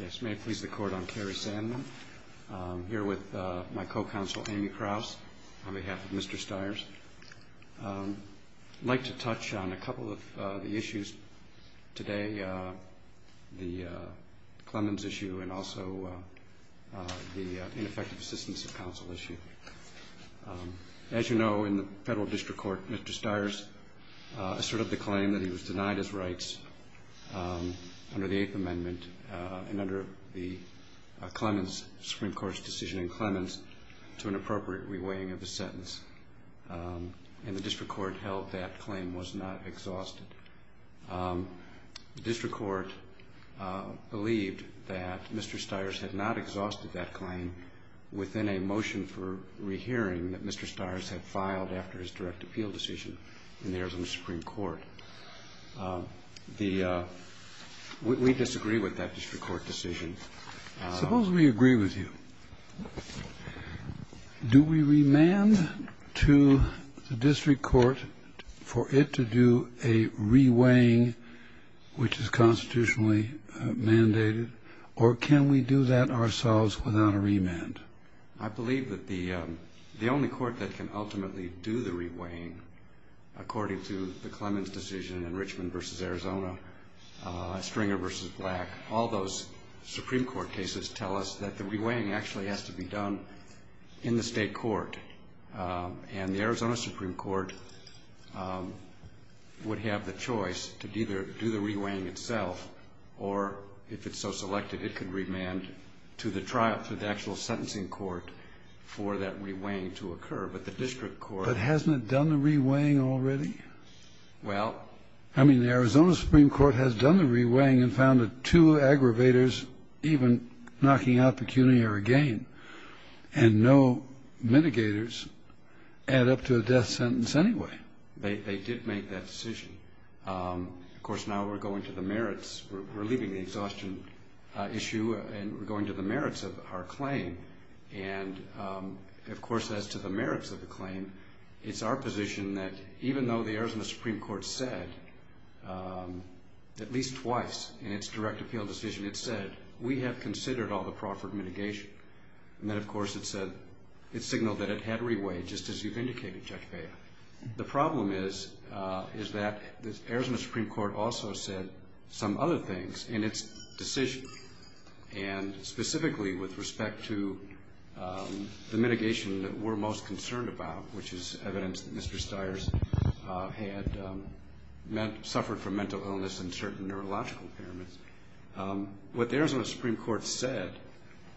Yes, may it please the Court, I'm Kerry Sandman. I'm here with my co-counsel Amy Kraus on behalf of Mr. Styers. I'd like to touch on a couple of the issues today, the Clemens issue and also the ineffective assistance of counsel issue. As you know, in the Federal District Court, Mr. Styers asserted the claim that he was denied his rights under the Eighth Amendment and under the Clemens Supreme Court's decision in Clemens to an appropriate re-weighing of the sentence. And the District Court held that claim was not exhausted. The District Court believed that Mr. Styers had not exhausted that claim within a motion for rehearing that Mr. Styers had filed after his direct appeal decision in the Arizona Supreme Court. We disagree with that District Court decision. Suppose we agree with you. Do we remand to the District Court for it to do a re-weighing, which is constitutionally mandated, or can we do that ourselves without a remand? I believe that the only court that can ultimately do the re-weighing, according to the Clemens decision in Richmond v. Arizona, Stringer v. Black, all those Supreme Court cases tell us that the re-weighing actually has to be done in the state court. And the Arizona Supreme Court would have the choice to either do the re-weighing itself or, if it's so selected, it could remand to the trial, to the actual sentencing court, for that re-weighing to occur. But the District Court- But hasn't it done the re-weighing already? Well- I mean, the Arizona Supreme Court has done the re-weighing and found that two aggravators, even knocking out pecuniary gain, and no mitigators add up to a death sentence anyway. They did make that decision. Of course, now we're going to the merits. We're leaving the exhaustion issue and we're going to the merits of our claim. And, of course, as to the merits of the claim, it's our position that, even though the Arizona Supreme Court said, at least twice in its direct appeal decision, it said, we have considered all the proffered mitigation. And then, of course, it said, it signaled that it had re-weighed, just as you've indicated, Judge Baer. The problem is that the Arizona Supreme Court also said some other things in its decision, and specifically with respect to the mitigation that we're most concerned about, which is evidence that Mr. Stiers had suffered from mental illness and certain neurological impairments. What the Arizona Supreme Court said,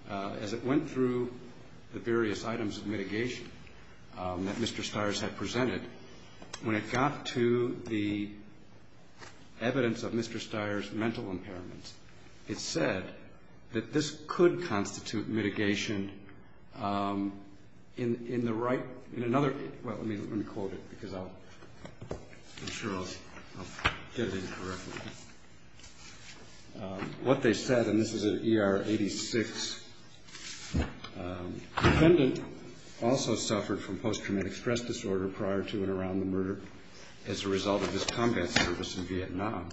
as it went through the various items of mitigation that Mr. Stiers had presented, when it got to the evidence of Mr. Stiers' mental impairments, it said that this could constitute mitigation in the right, in another, well, let me quote it, because I'm sure I'll get it incorrectly. What they said, and this is in ER 86, defendant also suffered from post-traumatic stress disorder prior to and around the murder as a result of his combat service in Vietnam.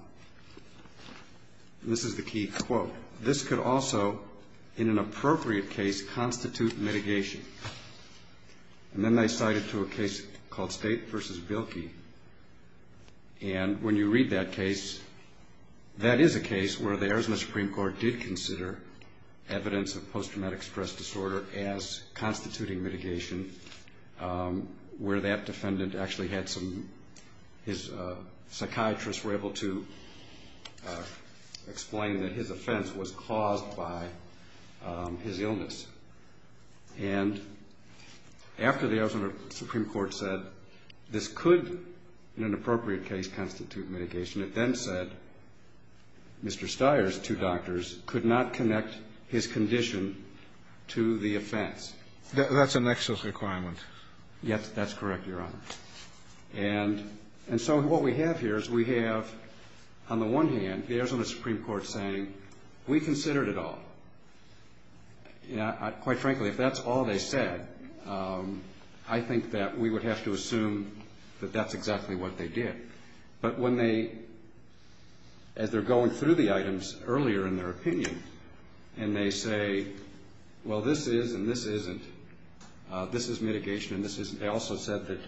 And this is the key quote. This could also, in an appropriate case, constitute mitigation. And then they cited to a case called State v. Bilkey. And when you read that case, that is a case where the Arizona Supreme Court did consider evidence of post-traumatic stress disorder as constituting mitigation, where that defendant actually had some, his psychiatrists were able to explain that his offense was caused by his illness. And after the Arizona Supreme Court said this could, in an appropriate case, constitute mitigation, it then said Mr. Stiers, two doctors, could not connect his condition to the offense. That's a nexus requirement. Yes, that's correct, Your Honor. And so what we have here is we have, on the one hand, the Arizona Supreme Court saying, we considered it all. Quite frankly, if that's all they said, I think that we would have to assume that that's exactly what they did. But when they, as they're going through the items earlier in their opinion, and they say, well, this is and this isn't, this is mitigation and this isn't, they also said that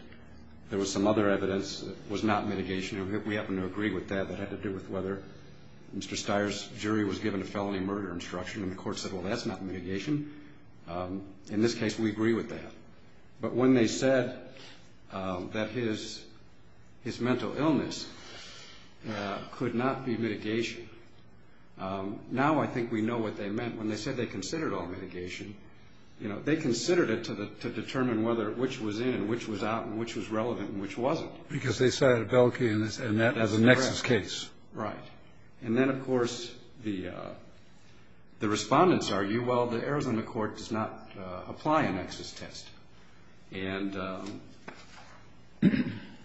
there was some other evidence that was not mitigation. We happen to agree with that. That had to do with whether Mr. Stiers' jury was given a felony murder instruction and the court said, well, that's not mitigation. In this case, we agree with that. But when they said that his mental illness could not be mitigation, now I think we know what they meant. When they said they considered all mitigation, you know, they considered it to determine whether which was in and which was out and which was relevant and which wasn't. Because they cited Belkey in that as a nexus case. Right. And then, of course, the respondents argue, well, the Arizona court does not apply a nexus test. And, of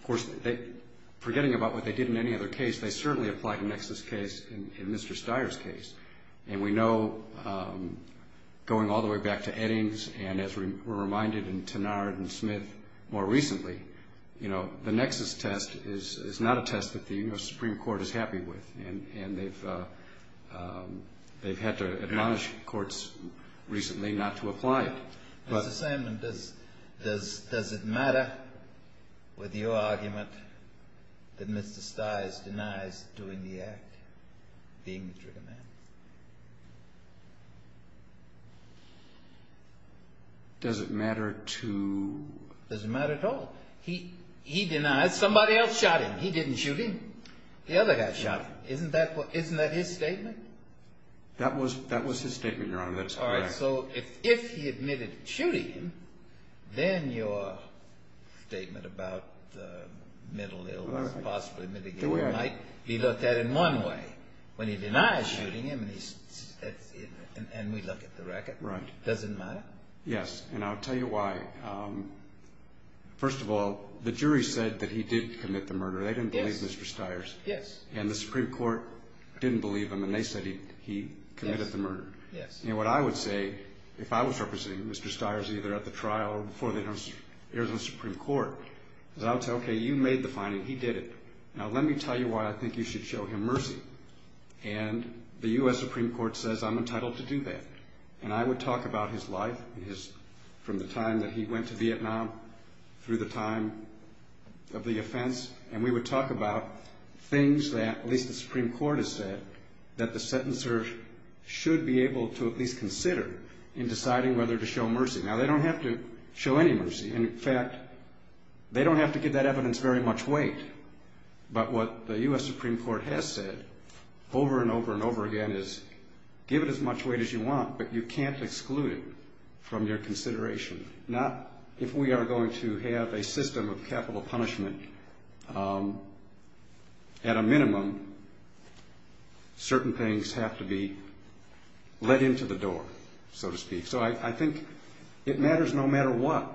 course, forgetting about what they did in any other case, they certainly applied a nexus case in Mr. Stiers' case. And we know, going all the way back to Eddings, and as we're reminded in Tenard and Smith more recently, you know, the nexus test is not a test that the U.S. Supreme Court is happy with. And they've had to admonish courts recently not to apply it. Mr. Sandman, does it matter with your argument that Mr. Stiers denies doing the act, being the trigger man? Does it matter to? Does it matter at all? He denies. Somebody else shot him. He didn't shoot him. The other guy shot him. Isn't that his statement? That was his statement, Your Honor, that it's correct. All right. So if he admitted shooting him, then your statement about the mental illness, possibly mitigating it, might be looked at in one way, when he denies shooting him and we look at the record. Right. Does it matter? Yes. And I'll tell you why. First of all, the jury said that he did commit the murder. They didn't believe Mr. Stiers. Yes. And the Supreme Court didn't believe him, and they said he committed the murder. Yes. And what I would say, if I was representing Mr. Stiers either at the trial or before the U.S. Supreme Court, is I would say, okay, you made the finding. He did it. Now let me tell you why I think you should show him mercy. And the U.S. Supreme Court says I'm entitled to do that. And I would talk about his life from the time that he went to Vietnam through the time of the offense, and we would talk about things that, at least the Supreme Court has said, that the sentencer should be able to at least consider in deciding whether to show mercy. Now, they don't have to show any mercy. In fact, they don't have to give that evidence very much weight. But what the U.S. Supreme Court has said over and over and over again is give it as much weight as you want, but you can't exclude it from your consideration. Now, if we are going to have a system of capital punishment, at a minimum, certain things have to be let into the door, so to speak. So I think it matters no matter what.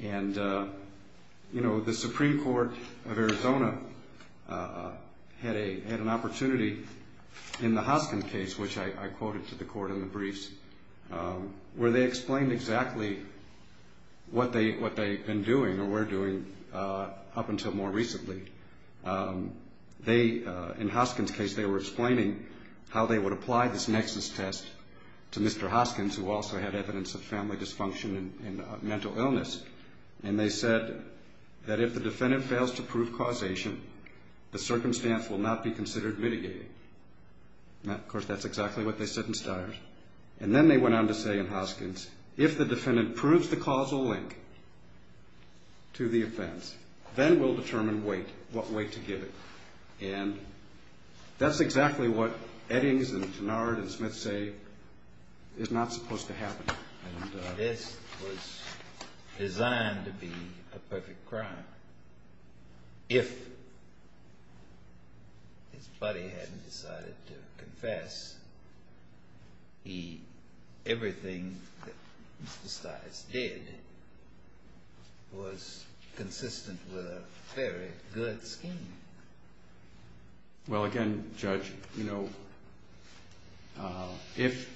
And, you know, the Supreme Court of Arizona had an opportunity in the Hoskins case, which I quoted to the court in the briefs, where they explained exactly what they've been doing or were doing up until more recently. They, in Hoskins' case, they were explaining how they would apply this nexus test to Mr. Hoskins, who also had evidence of family dysfunction and mental illness. And they said that if the defendant fails to prove causation, the circumstance will not be considered mitigated. Now, of course, that's exactly what they said in Steyer's. And then they went on to say in Hoskins, if the defendant proves the causal link to the offense, then we'll determine weight, what weight to give it. And that's exactly what Eddings and Gennard and Smith say is not supposed to happen. And this was designed to be a perfect crime. If his buddy hadn't decided to confess, everything that Mr. Steyer's did was consistent with a very good scheme. Well, again, Judge, you know, if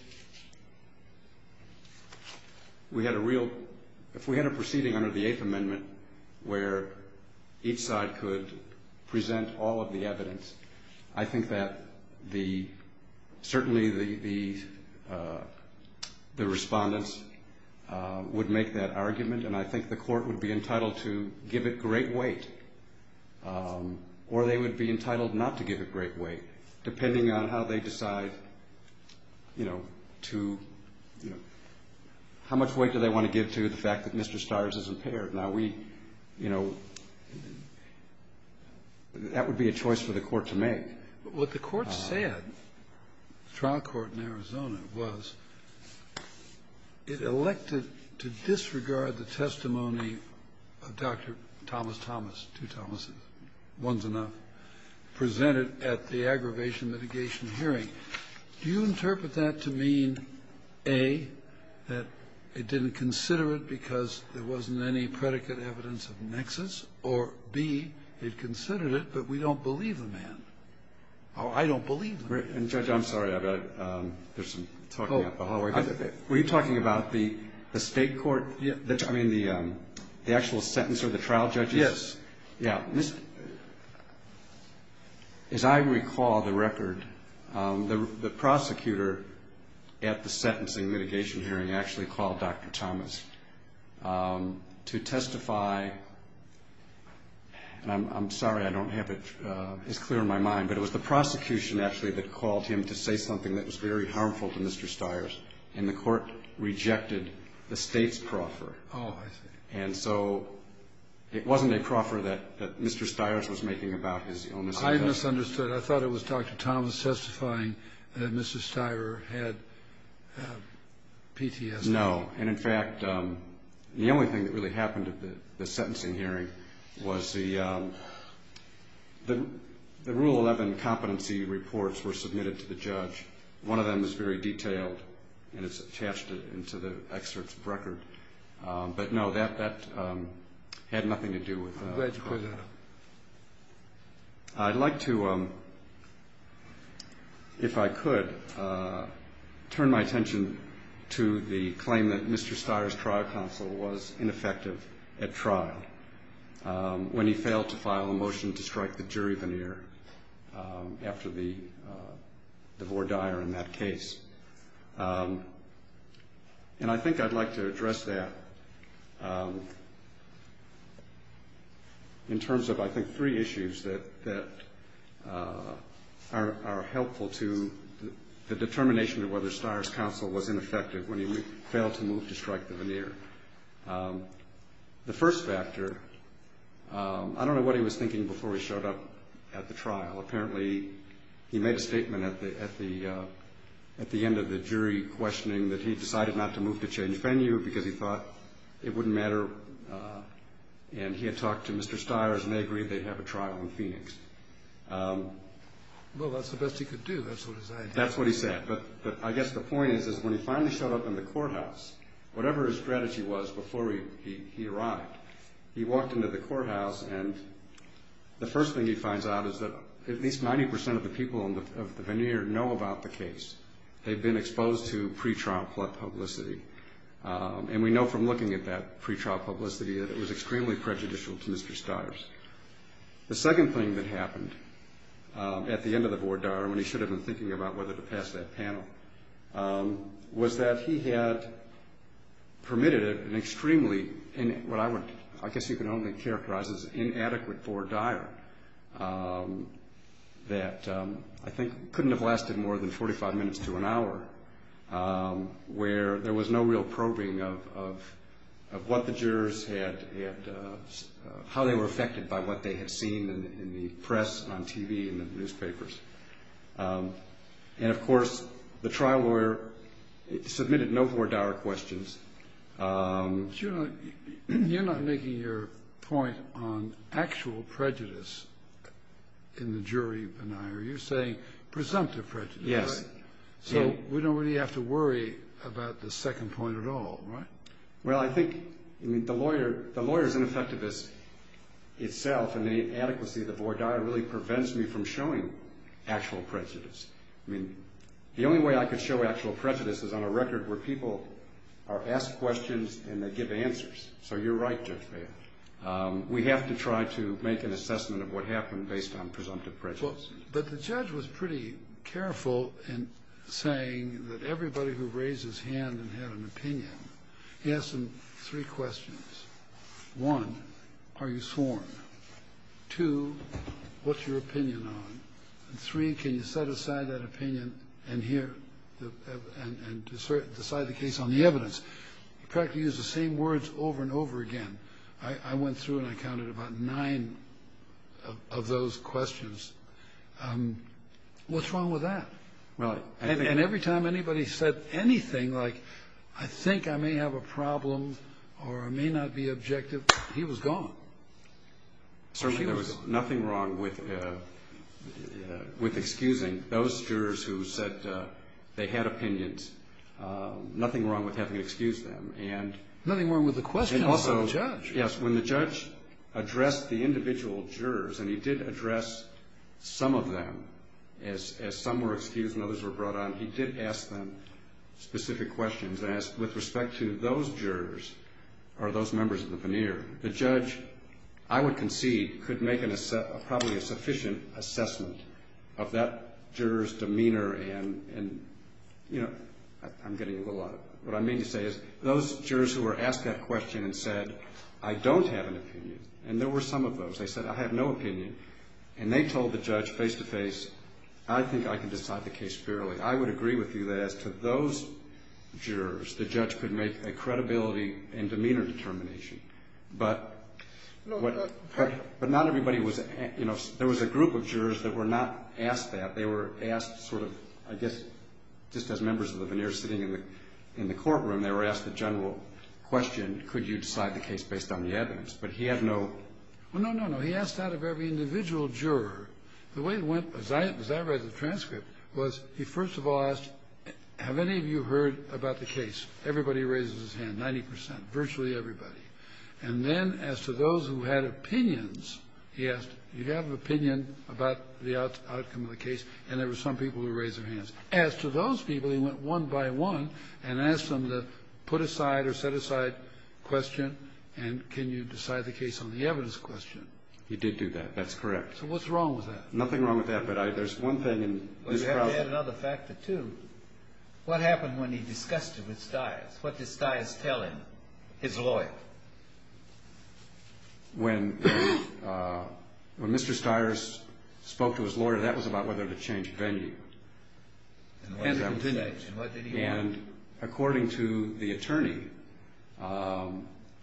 we had a proceeding under the Eighth Amendment where each side could present all of the evidence, I think that certainly the respondents would make that argument, and I think the Court would be entitled to give it great weight. Or they would be entitled not to give it great weight, depending on how they decide, you know, to, you know. How much weight do they want to give to the fact that Mr. Steyer's is impaired? Now, we, you know, that would be a choice for the Court to make. And what the Court said, the trial court in Arizona, was it elected to disregard the testimony of Dr. Thomas Thomas, two Thomases, one's enough, presented at the aggravation mitigation hearing. Do you interpret that to mean, A, that it didn't consider it because there wasn't any predicate evidence of nexus, or, B, it considered it, but we don't believe the man. Oh, I don't believe the man. And, Judge, I'm sorry, I've got to, there's some talking up the hallway. Were you talking about the state court, I mean, the actual sentencer, the trial judges? Yes. Yeah. As I recall the record, the prosecutor at the sentencing mitigation hearing actually called Dr. Thomas to testify, and I'm sorry I don't have it as clear in my mind, but it was the prosecution actually that called him to say something that was very harmful to Mr. Steyer's, and the Court rejected the state's proffer. Oh, I see. And so it wasn't a proffer that Mr. Steyer's was making about his illness. I misunderstood. I thought it was Dr. Thomas testifying that Mr. Steyer had PTSD. The answer is no. And, in fact, the only thing that really happened at the sentencing hearing was the Rule 11 competency reports were submitted to the judge. One of them is very detailed, and it's attached into the excerpt's record. But, no, that had nothing to do with it. I'm glad you put that up. I'd like to, if I could, turn my attention to the claim that Mr. Steyer's trial counsel was ineffective at trial when he failed to file a motion to strike the jury veneer after the voir dire in that case. And I think I'd like to address that in terms of, I think, three issues that are helpful to the determination of whether Steyer's counsel was ineffective when he failed to move to strike the veneer. The first factor, I don't know what he was thinking before he showed up at the trial. Apparently, he made a statement at the end of the jury questioning that he decided not to move to change venue because he thought it wouldn't matter. And he had talked to Mr. Steyer's, and they agreed they'd have a trial in Phoenix. Well, that's the best he could do. That's what his idea was. That's what he said. But I guess the point is when he finally showed up in the courthouse, whatever his strategy was before he arrived, he walked into the courthouse, and the first thing he finds out is that at least 90% of the people in the veneer know about the case. They've been exposed to pretrial publicity. And we know from looking at that pretrial publicity that it was extremely prejudicial to Mr. Steyer's. The second thing that happened at the end of the voir dire, when he should have been thinking about whether to pass that panel, was that he had permitted an extremely, and what I guess you can only characterize as inadequate voir dire, that I think couldn't have lasted more than 45 minutes to an hour, where there was no real probing of what the jurors had, how they were affected by what they had seen in the press and on TV and in the newspapers. And, of course, the trial lawyer submitted no voir dire questions. But you're not making your point on actual prejudice in the jury veneer. You're saying presumptive prejudice, right? Yes. So we don't really have to worry about the second point at all, right? Well, I think the lawyer's ineffectiveness itself and the adequacy of the voir dire really prevents me from showing actual prejudice. I mean, the only way I could show actual prejudice is on a record where people are asked questions and they give answers. So you're right, Judge Bailiff. We have to try to make an assessment of what happened based on presumptive prejudice. But the judge was pretty careful in saying that everybody who raised his hand and had an opinion, he asked them three questions. One, are you sworn? Two, what's your opinion on? Three, can you set aside that opinion and decide the case on the evidence? He practically used the same words over and over again. I went through and I counted about nine of those questions. What's wrong with that? And every time anybody said anything like, I think I may have a problem or I may not be objective, he was gone. Certainly there was nothing wrong with excusing those jurors who said they had opinions. Nothing wrong with having to excuse them. Nothing wrong with the questions from the judge. Yes, when the judge addressed the individual jurors, and he did address some of them, as some were excused and others were brought on, he did ask them specific questions. And with respect to those jurors or those members of the veneer, the judge, I would concede, could make probably a sufficient assessment of that juror's demeanor and, you know, I'm getting a little out of it. What I mean to say is those jurors who were asked that question and said, I don't have an opinion. And there were some of those. They said, I have no opinion. And they told the judge face-to-face, I think I can decide the case fairly. I would agree with you that as to those jurors, the judge could make a credibility and demeanor determination. But not everybody was, you know, there was a group of jurors that were not asked that. They were asked sort of, I guess, just as members of the veneer sitting in the courtroom, they were asked the general question, could you decide the case based on the evidence? But he had no ---- Well, no, no, no. He asked that of every individual juror. The way it went, as I read the transcript, was he first of all asked, have any of you heard about the case? Everybody raises his hand, 90 percent, virtually everybody. And then as to those who had opinions, he asked, do you have an opinion about the outcome of the case? And there were some people who raised their hands. As to those people, he went one by one and asked them to put aside or set aside a question, and can you decide the case on the evidence question. He did do that. That's correct. So what's wrong with that? Nothing wrong with that. But there's one thing. You have to add another factor, too. What happened when he discussed it with Stiers? What did Stiers tell him, his lawyer? When Mr. Stiers spoke to his lawyer, that was about whether to change venue. And what did he say? And according to the attorney,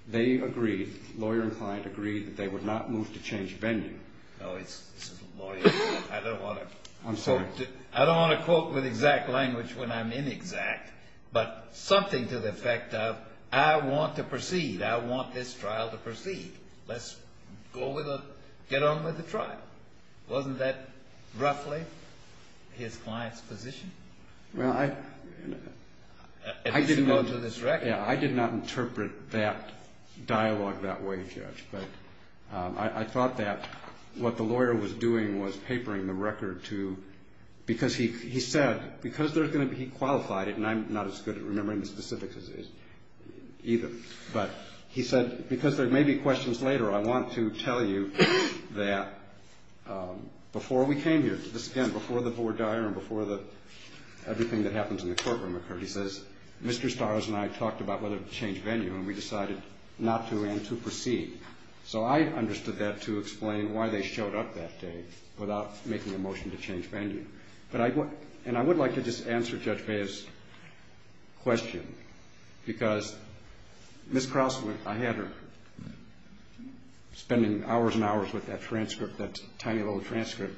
they agreed, lawyer and client agreed, that they would not move to change venue. I don't want to quote with exact language when I'm inexact, but something to the effect of I want to proceed. I want this trial to proceed. Let's get on with the trial. Wasn't that roughly his client's position? Well, I did not interpret that dialogue that way, Judge. But I thought that what the lawyer was doing was papering the record to, because he said, because there's going to be, he qualified it, and I'm not as good at remembering the specifics as he is either. But he said, because there may be questions later, I want to tell you that before we came here, this is again before the board diary and before everything that happens in the courtroom occurred, he says, Mr. Stiers and I talked about whether to change venue, and we decided not to and to proceed. So I understood that to explain why they showed up that day without making a motion to change venue. And I would like to just answer Judge Baez's question, because Ms. Krause, I had her spending hours and hours with that transcript, that tiny little transcript.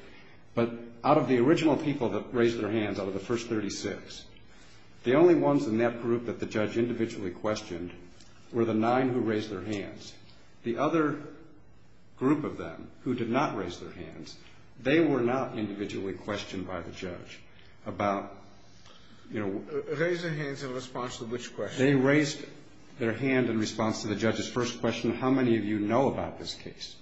But out of the original people that raised their hands out of the first 36, the only ones in that group that the judge individually questioned were the nine who raised their hands. The other group of them who did not raise their hands, they were not individually questioned by the judge about, you know. Raised their hands in response to which question? They raised their hand in response to the judge's first question, how many of you know about this case?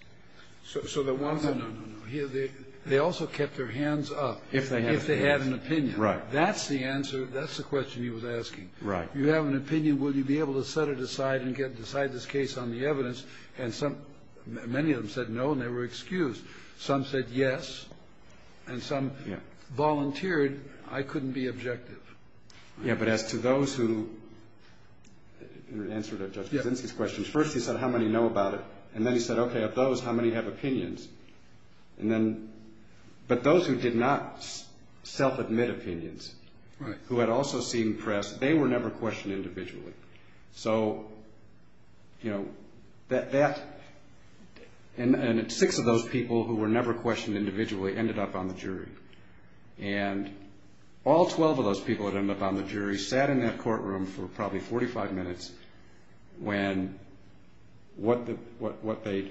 No, no, no. They also kept their hands up if they had an opinion. Right. That's the answer. That's the question he was asking. Right. You have an opinion. Will you be able to set it aside and decide this case on the evidence? And many of them said no, and they were excused. Some said yes, and some volunteered. I couldn't be objective. Yeah, but as to those who answered Judge Krasinski's questions, first he said, how many know about it? And then he said, okay, of those, how many have opinions? And then, but those who did not self-admit opinions, who had also seen press, they were never questioned individually. So, you know, that, and six of those people who were never questioned individually ended up on the jury. And all 12 of those people that ended up on the jury sat in that courtroom for probably 45 minutes when what they,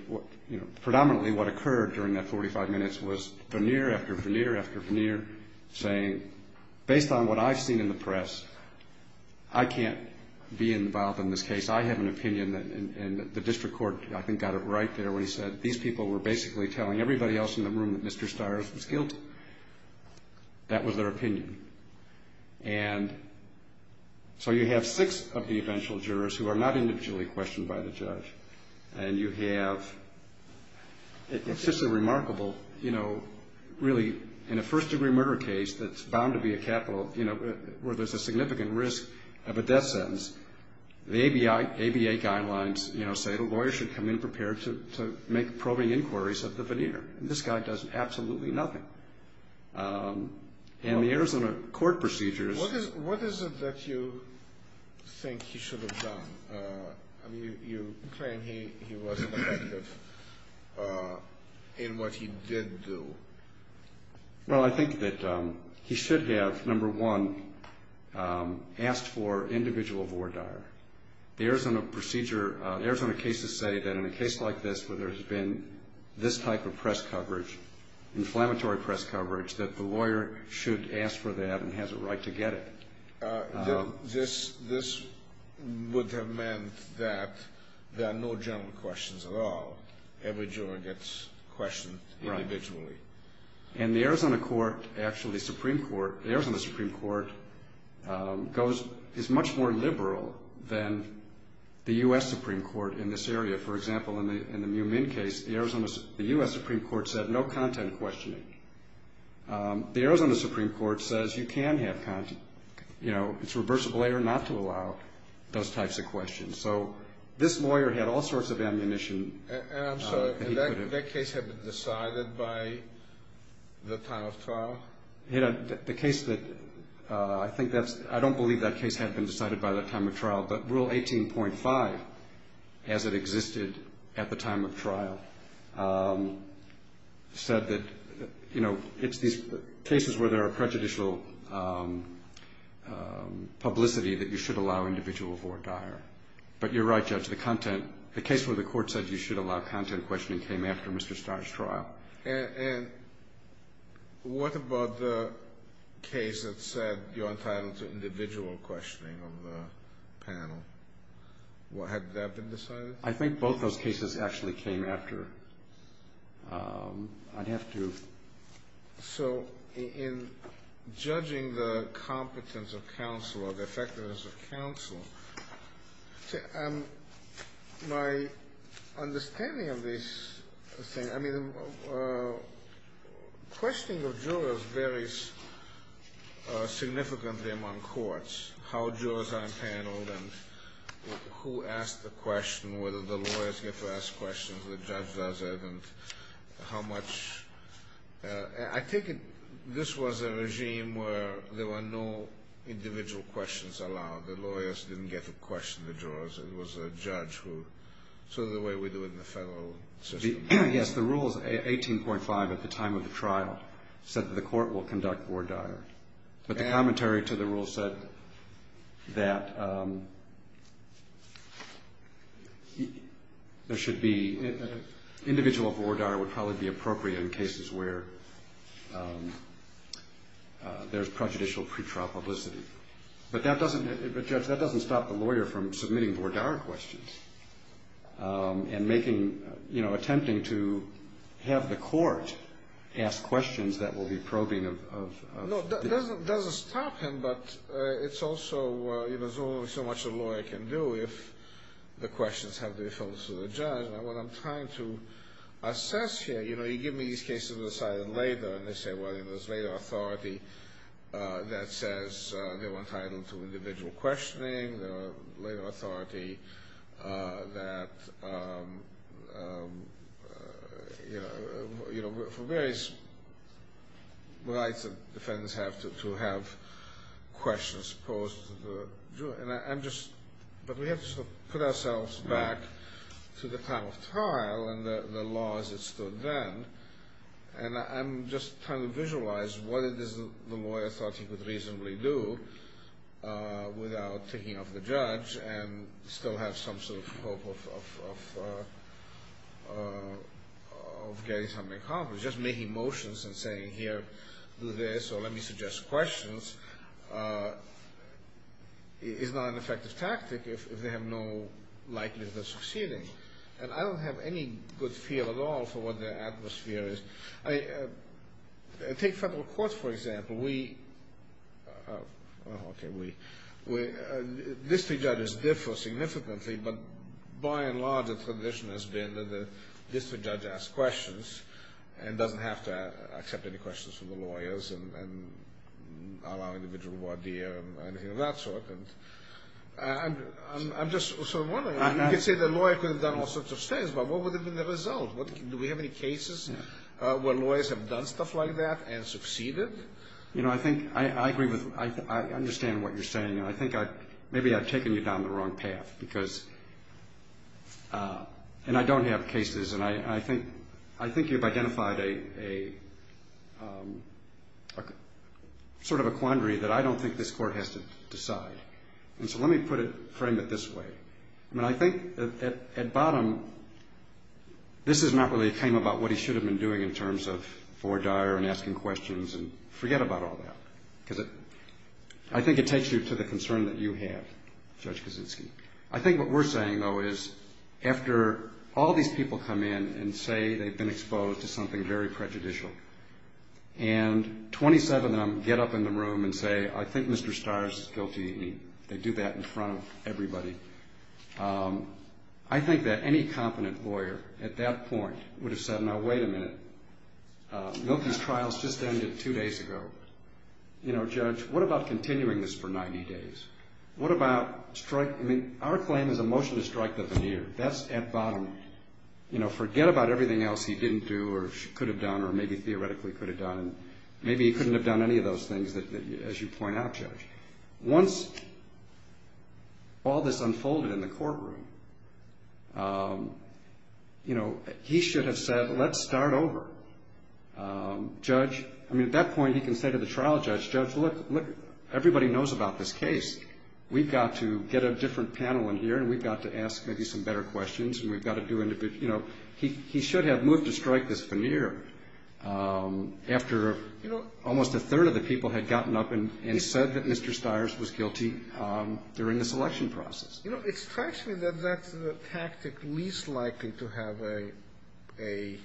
you know, predominantly what occurred during that 45 minutes was veneer after veneer after veneer saying, based on what I've seen in the press, I can't be involved in this case. I have an opinion, and the district court, I think, got it right there when he said, these people were basically telling everybody else in the room that Mr. Stires was guilty. That was their opinion. And so you have six of the eventual jurors who are not individually questioned by the judge. And you have, it's just a remarkable, you know, really, in a first-degree murder case that's bound to be a capital, you know, where there's a significant risk of a death sentence, the ABA guidelines, you know, say the lawyer should come in prepared to make probing inquiries of the veneer. And this guy does absolutely nothing. And the Arizona court procedures. What is it that you think he should have done? I mean, you claim he wasn't effective in what he did do. Well, I think that he should have, number one, asked for individual voir dire. The Arizona procedure, Arizona cases say that in a case like this, where there has been this type of press coverage, inflammatory press coverage, that the lawyer should ask for that and has a right to get it. This would have meant that there are no general questions at all. Every juror gets questioned individually. Right. And the Arizona court actually, the Arizona Supreme Court, is much more liberal than the U.S. Supreme Court in this area. For example, in the Miu Minh case, the U.S. Supreme Court said no content questioning. The Arizona Supreme Court says you can have content, you know, it's reversible error not to allow those types of questions. So this lawyer had all sorts of ammunition. And I'm sorry, that case had been decided by the time of trial? The case that I think that's ‑‑ I don't believe that case had been decided by the time of trial, but Rule 18.5, as it existed at the time of trial, said that, you know, it's these cases where there are prejudicial publicity that you should allow individual voir dire. But you're right, Judge. The case where the court said you should allow content questioning came after Mr. Starr's trial. And what about the case that said you're entitled to individual questioning of the panel? Had that been decided? I think both those cases actually came after. I'd have to ‑‑ So in judging the competence of counsel or the effectiveness of counsel, my understanding of this thing, I mean, questioning of jurors varies significantly among courts, how jurors are empaneled and who asks the question, whether the lawyers get to ask questions, the judge does it, and how much ‑‑ I think this was a regime where there were no individual questions allowed. The lawyers didn't get to question the jurors. It was a judge who, sort of the way we do it in the federal system. Yes, the Rules 18.5 at the time of the trial said that the court will conduct voir dire. But the commentary to the rule said that there should be ‑‑ individual voir dire would probably be appropriate in cases where there's prejudicial pretrial publicity. But that doesn't ‑‑ but, Judge, that doesn't stop the lawyer from submitting voir dire questions and making, you know, attempting to have the court ask questions that will be probing of ‑‑ No, it doesn't stop him, but it's also, you know, there's only so much a lawyer can do if the questions have to be filled to the judge. And what I'm trying to assess here, you know, you give me these cases that are decided later, and they say, well, there's later authority that says they were entitled to individual questioning, there are later authority that, you know, for various rights that defendants have to have questions posed to the jury. And I'm just ‑‑ but we have to put ourselves back to the time of trial and the laws that stood then. And I'm just trying to visualize what it is the lawyer thought he could reasonably do without taking off the judge and still have some sort of hope of getting something accomplished. Just making motions and saying, here, do this, or let me suggest questions, is not an effective tactic if they have no likelihood of succeeding. And I don't have any good feel at all for what the atmosphere is. I mean, take federal courts, for example. We ‑‑ okay, we ‑‑ district judges differ significantly, but by and large the tradition has been that the district judge asks questions and doesn't have to accept any questions from the lawyers and allow individual voir dire or anything of that sort. And I'm just sort of wondering. I mean, you could say the lawyer could have done all sorts of things, but what would have been the result? Do we have any cases where lawyers have done stuff like that and succeeded? You know, I think ‑‑ I agree with ‑‑ I understand what you're saying. And I think maybe I've taken you down the wrong path because ‑‑ and I don't have cases. And I think you've identified a sort of a quandary that I don't think this court has to decide. And so let me put it, frame it this way. I mean, I think at bottom this is not really ‑‑ it came about what he should have been doing in terms of voir dire and asking questions and forget about all that because I think it takes you to the concern that you have, Judge Kaczynski. I think what we're saying, though, is after all these people come in and say they've been exposed to something very prejudicial and 27 of them get up in the room and say, I think Mr. Starr is guilty and they do that in front of everybody. I think that any competent lawyer at that point would have said, now, wait a minute, Milky's trials just ended two days ago. You know, Judge, what about continuing this for 90 days? What about strike ‑‑ I mean, our claim is a motion to strike the veneer. That's at bottom. You know, forget about everything else he didn't do or could have done or maybe theoretically could have done. Maybe he couldn't have done any of those things as you point out, Judge. Once all this unfolded in the courtroom, you know, he should have said, let's start over. Judge, I mean, at that point he can say to the trial judge, Judge, look, everybody knows about this case. We've got to get a different panel in here and we've got to ask maybe some better questions and we've got to do ‑‑ you know, he should have moved to strike this veneer after almost a third of the people had gotten up and said that Mr. Stires was guilty during the selection process. You know, it strikes me that that's the tactic least likely to have a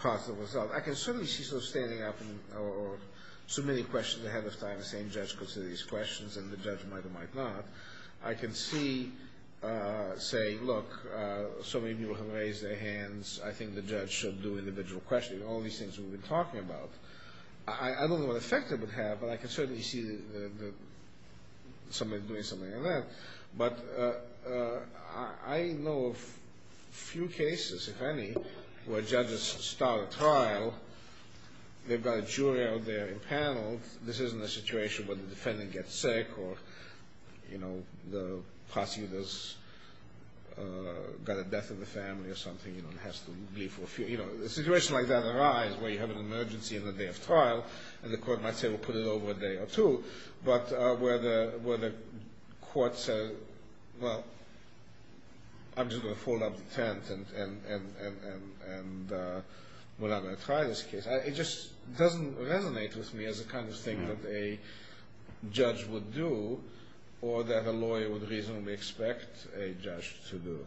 positive result. I can certainly see sort of standing up or submitting questions ahead of time and saying, Judge, consider these questions, and the judge might or might not. I can see saying, look, so many people have raised their hands. I think the judge should do individual questions. All these things we've been talking about. I don't know what effect it would have, but I can certainly see somebody doing something like that. But I know of few cases, if any, where judges start a trial. They've got a jury out there in panel. This isn't a situation where the defendant gets sick or, you know, the prosecutor's got a death in the family or something and has to leave for a few. You know, a situation like that arise where you have an emergency in the day of trial and the court might say, well, put it over a day or two. But where the court says, well, I'm just going to fold up the tent and we're not going to try this case. It just doesn't resonate with me as a kind of thing that a judge would do or that a lawyer would reasonably expect a judge to do.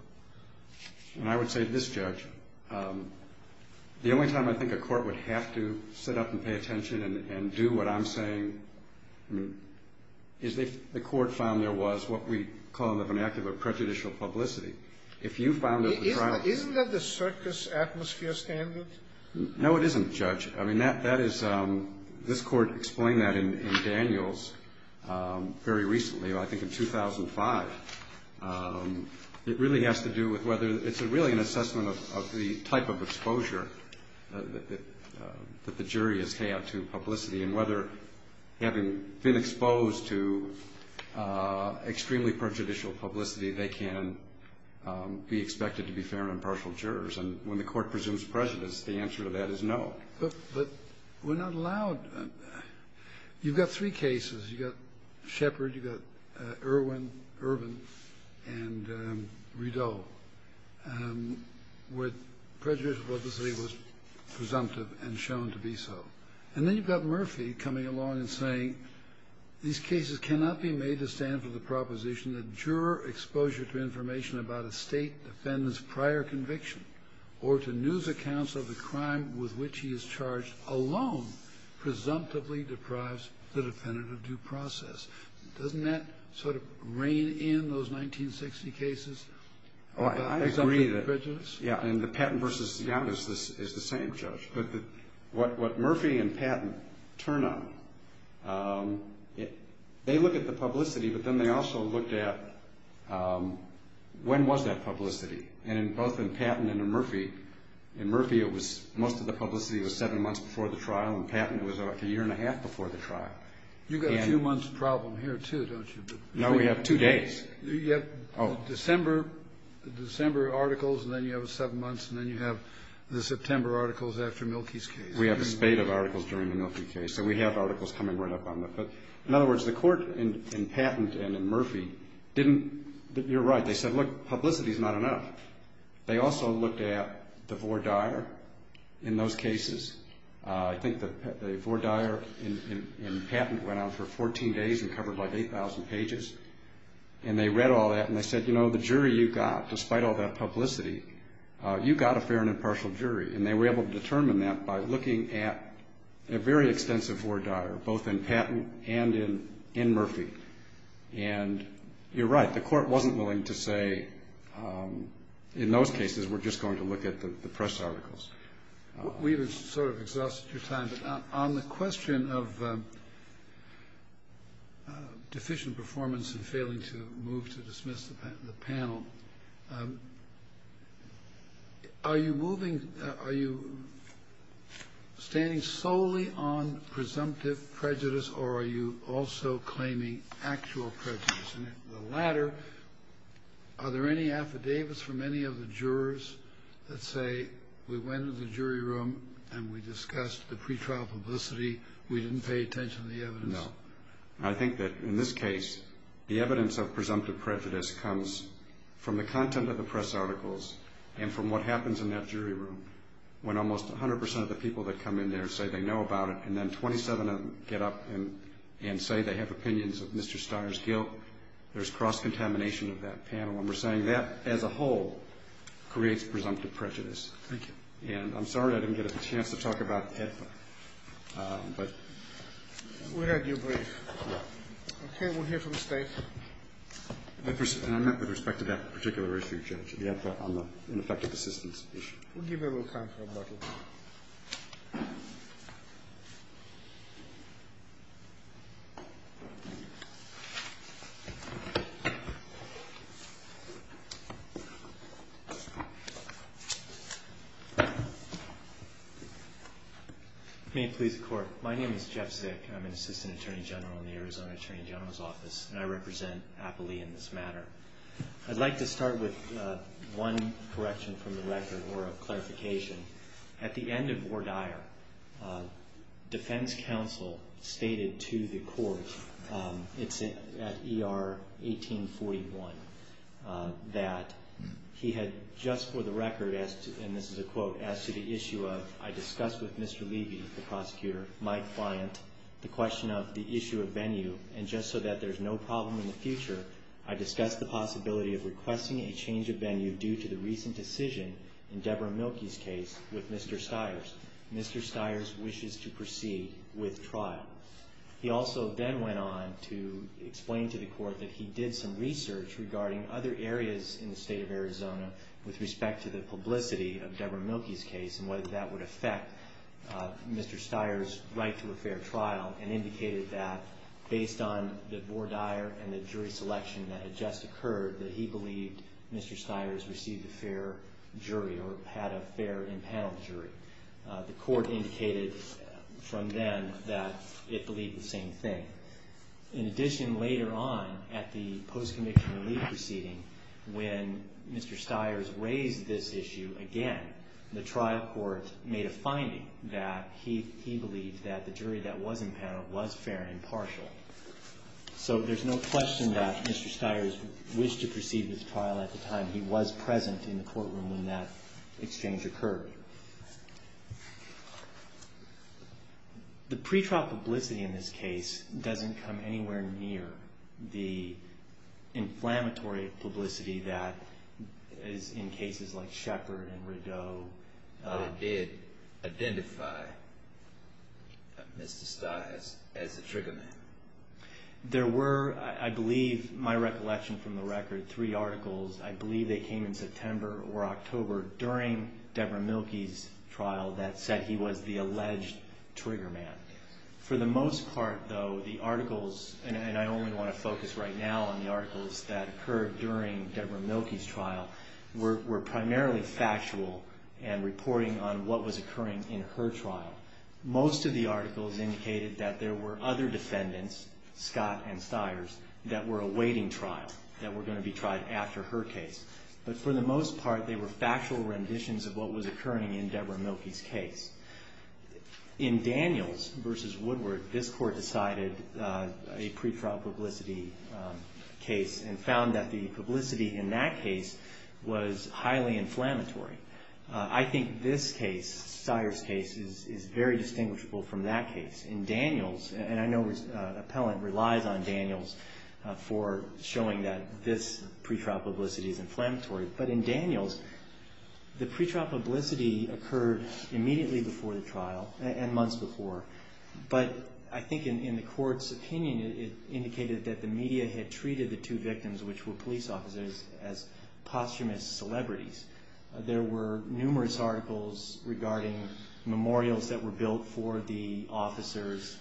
And I would say to this judge, the only time I think a court would have to sit up and pay attention and do what I'm saying is if the court found there was what we call in the vernacular prejudicial publicity. If you found that the trial. Isn't that the circus atmosphere standard? No, it isn't, Judge. I mean, that is, this court explained that in Daniels very recently, I think in 2005. It really has to do with whether it's really an assessment of the type of exposure that the jury has had to publicity and whether having been exposed to extremely prejudicial publicity, they can be expected to be fair and impartial jurors. And when the court presumes prejudice, the answer to that is no. But we're not allowed. You've got three cases. You've got Shepard, you've got Irwin, Irvin, and Rideau, where prejudicial publicity was presumptive and shown to be so. And then you've got Murphy coming along and saying these cases cannot be made to stand for the proposition that juror exposure to information about a state defendant's prior conviction or to news accounts of the crime with which he is charged alone presumptively deprives the defendant of due process. Doesn't that sort of rein in those 1960 cases about presumptive prejudice? Oh, I agree. Yeah, and the Patton v. Young is the same, Judge. But what Murphy and Patton turn on, they look at the publicity, but then they also looked at when was that publicity. And both in Patton and in Murphy, in Murphy it was most of the publicity was seven months before the trial. In Patton it was about a year and a half before the trial. You've got a few months problem here, too, don't you? No, we have two days. You have December articles, and then you have seven months, and then you have the September articles after Mielke's case. We have a spate of articles during the Mielke case. So we have articles coming right up on that. But, in other words, the court in Patton and in Murphy didn't you're right. They said, look, publicity is not enough. They also looked at the voir dire in those cases. I think the voir dire in Patton went on for 14 days and covered like 8,000 pages. And they read all that, and they said, you know, the jury you got, despite all that publicity, you got a fair and impartial jury. And they were able to determine that by looking at a very extensive voir dire, both in Patton and in Murphy. And you're right. The court wasn't willing to say, in those cases, we're just going to look at the press articles. We've sort of exhausted your time. But on the question of deficient performance and failing to move to dismiss the panel, are you moving, are you standing solely on presumptive prejudice, or are you also claiming actual prejudice? And the latter, are there any affidavits from any of the jurors that say we went into the jury room and we discussed the pretrial publicity, we didn't pay attention to the evidence? No. I think that in this case, the evidence of presumptive prejudice comes from the content of the press articles and from what happens in that jury room, when almost 100 percent of the people that come in there say they know about it, and then 27 of them get up and say they have opinions of Mr. Steyer's guilt. There's cross-contamination of that panel. And we're saying that, as a whole, creates presumptive prejudice. Thank you. And I'm sorry I didn't get a chance to talk about EDFA. But we're at your brief. Okay. We'll hear from the State. And I meant with respect to that particular issue, Judge, the EDFA on the ineffective assistance issue. We'll give you a little time for rebuttal. May it please the Court. My name is Jeff Zick. I'm an Assistant Attorney General in the Arizona Attorney General's Office. And I represent Appley in this matter. I'd like to start with one correction from the record or a clarification. At the end of Or Dyer, defense counsel stated to the court, it's at ER 1841, that he had just for the record, and this is a quote, as to the issue of, I discussed with Mr. Levy, the prosecutor, my client, the question of the issue of venue. And just so that there's no problem in the future, I discussed the possibility of requesting a change of venue due to the recent decision in Deborah Mielke's case with Mr. Steyer's. Mr. Steyer's wishes to proceed with trial. He also then went on to explain to the court that he did some research regarding other areas in the state of Arizona with respect to the publicity of Deborah Mielke's case and whether that would affect Mr. Steyer's right to a fair trial and indicated that, based on the Or Dyer and the jury selection that had just occurred, that he believed Mr. Steyer's received a fair jury or had a fair impanel jury. The court indicated from then that it believed the same thing. In addition, later on, at the post-conviction relief proceeding, when Mr. Steyer's raised this issue again, the trial court made a finding that he believed that the jury that was impaneled was fair and partial. So there's no question that Mr. Steyer's wished to proceed with trial at the time. He was present in the courtroom when that exchange occurred. The pretrial publicity in this case doesn't come anywhere near the inflammatory publicity that is in cases like Shepard and Rideau. I did identify Mr. Steyer as the trigger man. There were, I believe, my recollection from the record, three articles. I believe they came in September or October during Deborah Mielke's trial that said he was the alleged trigger man. For the most part, though, the articles, and I only want to focus right now on the articles that occurred during Deborah Mielke's trial, were primarily factual and reporting on what was occurring in her trial. Most of the articles indicated that there were other defendants, Scott and Steyer's, that were awaiting trial, that were going to be tried after her case. But for the most part, they were factual renditions of what was occurring in Deborah Mielke's case. In Daniels v. Woodward, this court decided a pretrial publicity case and found that the publicity in that case was highly inflammatory. I think this case, Steyer's case, is very distinguishable from that case. In Daniels, and I know an appellant relies on Daniels for showing that this pretrial publicity is inflammatory, but in Daniels, the pretrial publicity occurred immediately before the trial and months before. But I think in the court's opinion, it indicated that the media had treated the two victims, which were police officers, as posthumous celebrities. There were numerous articles regarding memorials that were built for the officers.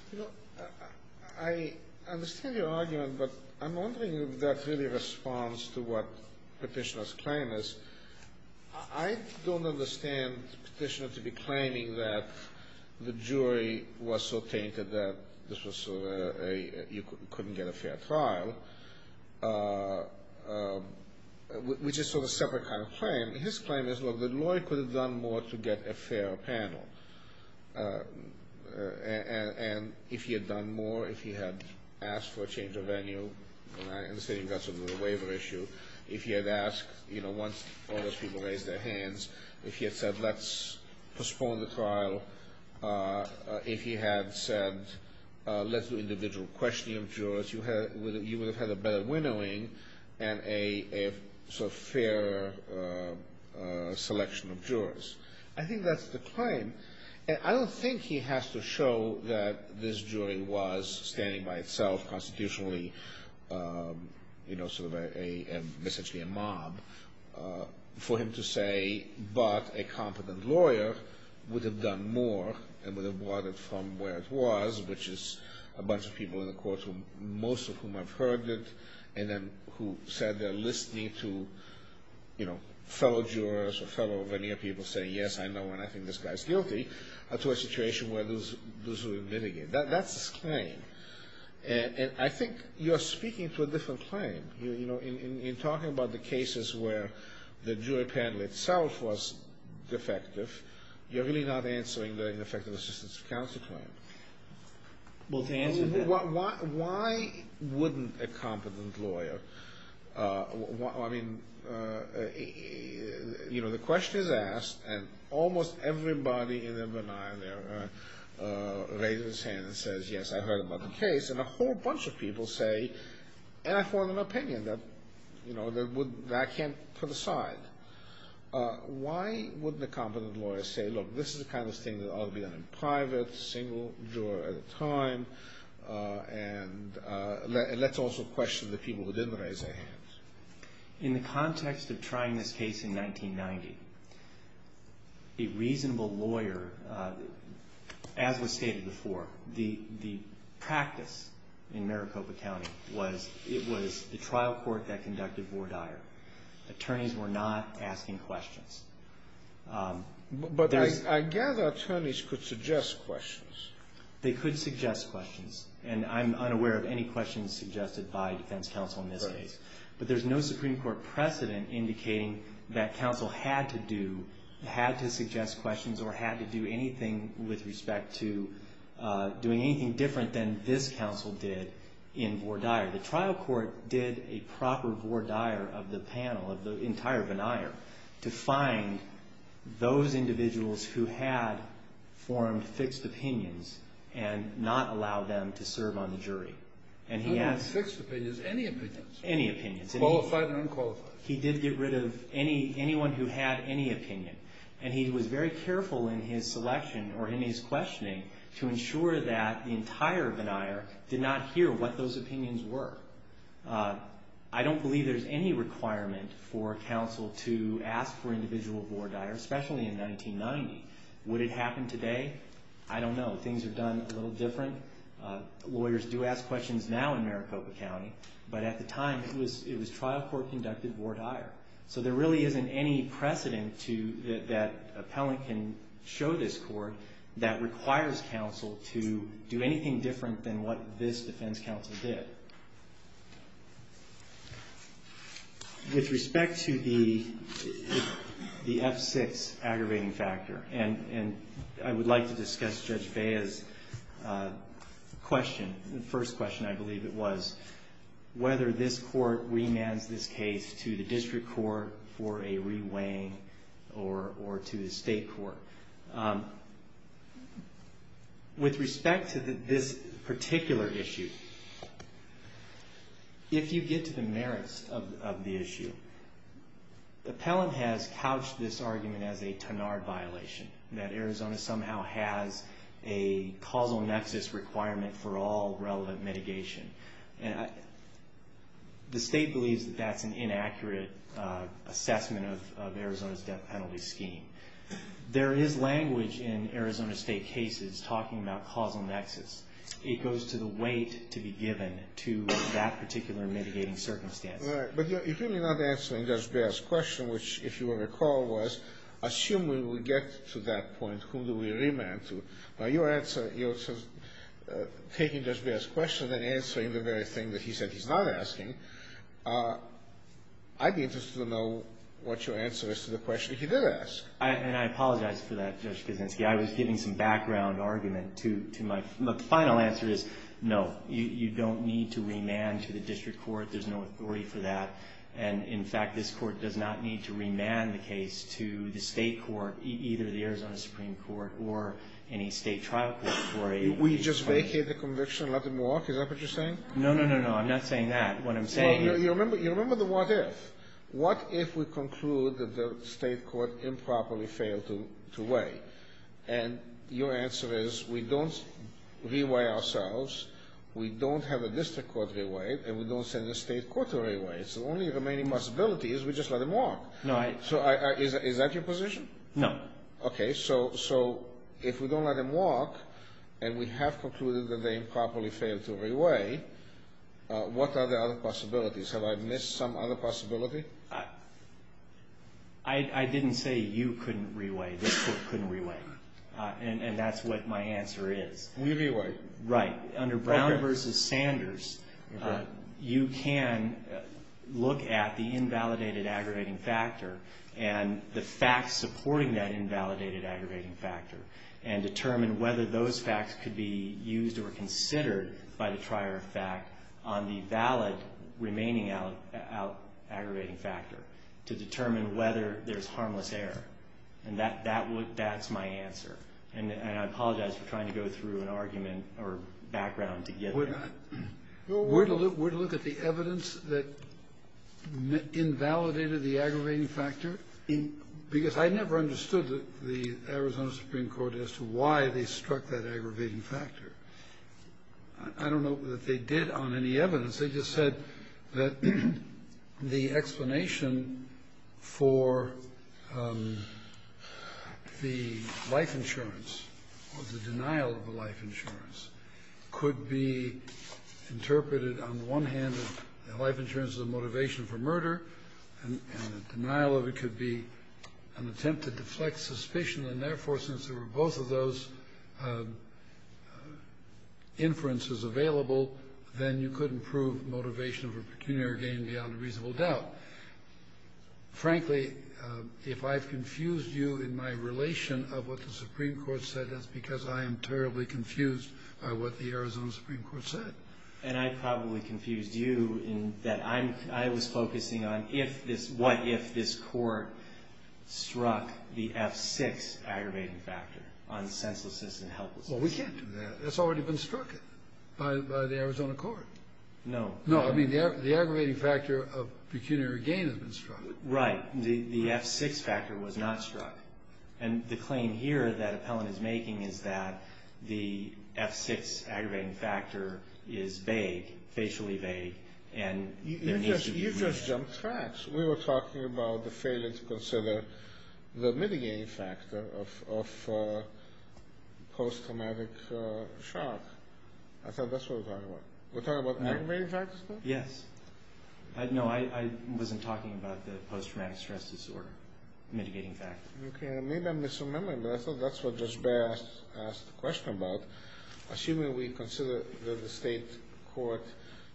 I understand your argument, but I'm wondering if that really responds to what Petitioner's claim is. I don't understand Petitioner to be claiming that the jury was so tainted that you couldn't get a fair trial, which is sort of a separate kind of claim. His claim is, look, the lawyer could have done more to get a fair panel. And if he had done more, if he had asked for a change of venue, and I understand you've got something with the waiver issue, if he had asked, you know, once all those people raised their hands, if he had said let's postpone the trial, if he had said let's do individual questioning of jurors, you would have had a better winnowing and a sort of fair selection of jurors. I think that's the claim. And I don't think he has to show that this jury was standing by itself constitutionally, you know, sort of a, essentially a mob, for him to say, but a competent lawyer would have done more and would have brought it from where it was, which is a bunch of people in the court room, most of whom I've heard of, and then who said they're listening to, you know, fellow jurors or fellow veneer people saying, yes, I know, and I think this guy's guilty, to a situation where those would mitigate. That's his claim. And I think you're speaking to a different claim. You know, in talking about the cases where the jury panel itself was defective, you're really not answering the ineffective assistance of counsel claim. Well, to answer that. Why wouldn't a competent lawyer, I mean, you know, the question is asked, and almost everybody in the veneer raises his hand and says, yes, I heard about the case, and a whole bunch of people say, and I form an opinion that, you know, that I can't put aside. Why wouldn't a competent lawyer say, look, this is the kind of thing that ought to be done in private, single juror at a time, and let's also question the people who didn't raise their hands? In the context of trying this case in 1990, a reasonable lawyer, as was stated before, the practice in Maricopa County was it was the trial court that conducted Vore Dyer. Attorneys were not asking questions. But I gather attorneys could suggest questions. They could suggest questions, and I'm unaware of any questions suggested by defense counsel in this case. But there's no Supreme Court precedent indicating that counsel had to do, had to suggest questions or had to do anything with respect to doing anything different than this counsel did in Vore Dyer. The trial court did a proper Vore Dyer of the panel, of the entire veneer, to find those individuals who had formed fixed opinions and not allow them to serve on the jury. And he asked… Not even fixed opinions. Any opinions. Any opinions. Qualified and unqualified. He did get rid of anyone who had any opinion. And he was very careful in his selection or in his questioning to ensure that the entire veneer did not hear what those opinions were. I don't believe there's any requirement for counsel to ask for individual Vore Dyer, especially in 1990. Would it happen today? I don't know. Things are done a little different. Lawyers do ask questions now in Maricopa County. But at the time, it was trial court conducted Vore Dyer. So there really isn't any precedent that an appellant can show this court that requires counsel to do anything different than what this defense counsel did. With respect to the F6 aggravating factor, and I would like to discuss Judge Bea's question, the first question, I believe it was, whether this court remands this case to the district court for a re-weighing or to the state court. With respect to this particular issue, if you get to the merits of the issue, the appellant has couched this argument as a Tanard violation, that Arizona somehow has a causal nexus requirement for all relevant mitigation. The state believes that that's an inaccurate assessment of Arizona's death penalty scheme. There is language in Arizona State cases talking about causal nexus. It goes to the weight to be given to that particular mitigating circumstance. Right. But you're really not answering Judge Bea's question, which, if you will recall, was assuming we get to that point, who do we remand to? Now, you're taking Judge Bea's question and answering the very thing that he said he's not asking. I'd be interested to know what your answer is to the question he did ask. And I apologize for that, Judge Kuczynski. I was giving some background argument to my final answer is, no, you don't need to remand to the district court. There's no authority for that. And, in fact, this court does not need to remand the case to the state court, either the Arizona Supreme Court or any state trial court. Will you just vacate the conviction and let them walk? Is that what you're saying? No, no, no, no. I'm not saying that. What I'm saying is you remember the what if. What if we conclude that the state court improperly failed to weigh? And your answer is we don't re-weigh ourselves, we don't have a district court re-weighed, and we don't send the state court to re-weigh. It's the only remaining possibility is we just let them walk. So is that your position? No. Okay. So if we don't let them walk and we have concluded that they improperly failed to re-weigh, what are the other possibilities? Have I missed some other possibility? I didn't say you couldn't re-weigh. This court couldn't re-weigh. And that's what my answer is. We re-weigh. Right. Under Brown v. Sanders, you can look at the invalidated aggregating factor and the facts supporting that invalidated aggravating factor and determine whether those facts could be used or considered by the trier of fact on the valid remaining aggravating factor to determine whether there's harmless error. And that's my answer. And I apologize for trying to go through an argument or background to get there. We're to look at the evidence that invalidated the aggravating factor? Because I never understood the Arizona Supreme Court as to why they struck that aggravating factor. I don't know that they did on any evidence. They just said that the explanation for the life insurance or the denial of the life insurance could be interpreted on the one hand as the life insurance as a motivation for murder, and the denial of it could be an attempt to deflect suspicion. And therefore, since there were both of those inferences available, then you couldn't prove motivation for pecuniary gain beyond a reasonable doubt. Frankly, if I've confused you in my relation of what the Supreme Court said, that's because I am terribly confused by what the Arizona Supreme Court said. And I probably confused you in that I was focusing on what if this court struck the F6 aggravating factor on senselessness and helplessness. Well, we can't do that. That's already been struck by the Arizona court. No. No, I mean the aggravating factor of pecuniary gain has been struck. Right. The F6 factor was not struck. And the claim here that Appellant is making is that the F6 aggravating factor is vague, facially vague, and there needs to be relief. You just jumped tracks. We were talking about the failure to consider the mitigating factor of post-traumatic shock. I thought that's what we're talking about. We're talking about aggravating factors now? Yes. No, I wasn't talking about the post-traumatic stress disorder mitigating factor. Okay. I may have been misremembering, but I thought that's what Judge Baer asked the question about. Assuming we consider that the state court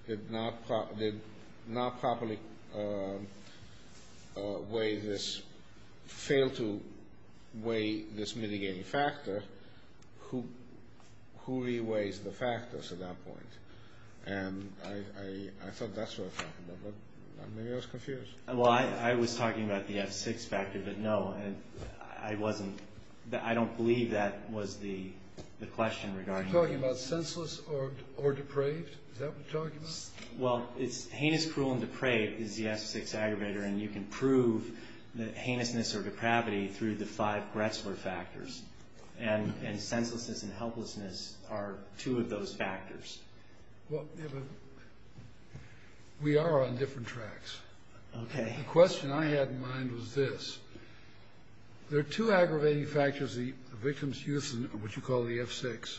did not properly weigh this, failed to weigh this mitigating factor, who re-weighs the factors at that point? And I thought that's what we're talking about, but maybe I was confused. Well, I was talking about the F6 factor, but no, I wasn't. I don't believe that was the question regarding it. Are you talking about senseless or depraved? Is that what you're talking about? Well, it's heinous, cruel, and depraved is the F6 aggravator, and you can prove the heinousness or depravity through the five Gretzler factors. And senselessness and helplessness are two of those factors. Well, we are on different tracks. Okay. The question I had in mind was this. There are two aggravating factors, the victim's use of what you call the F6,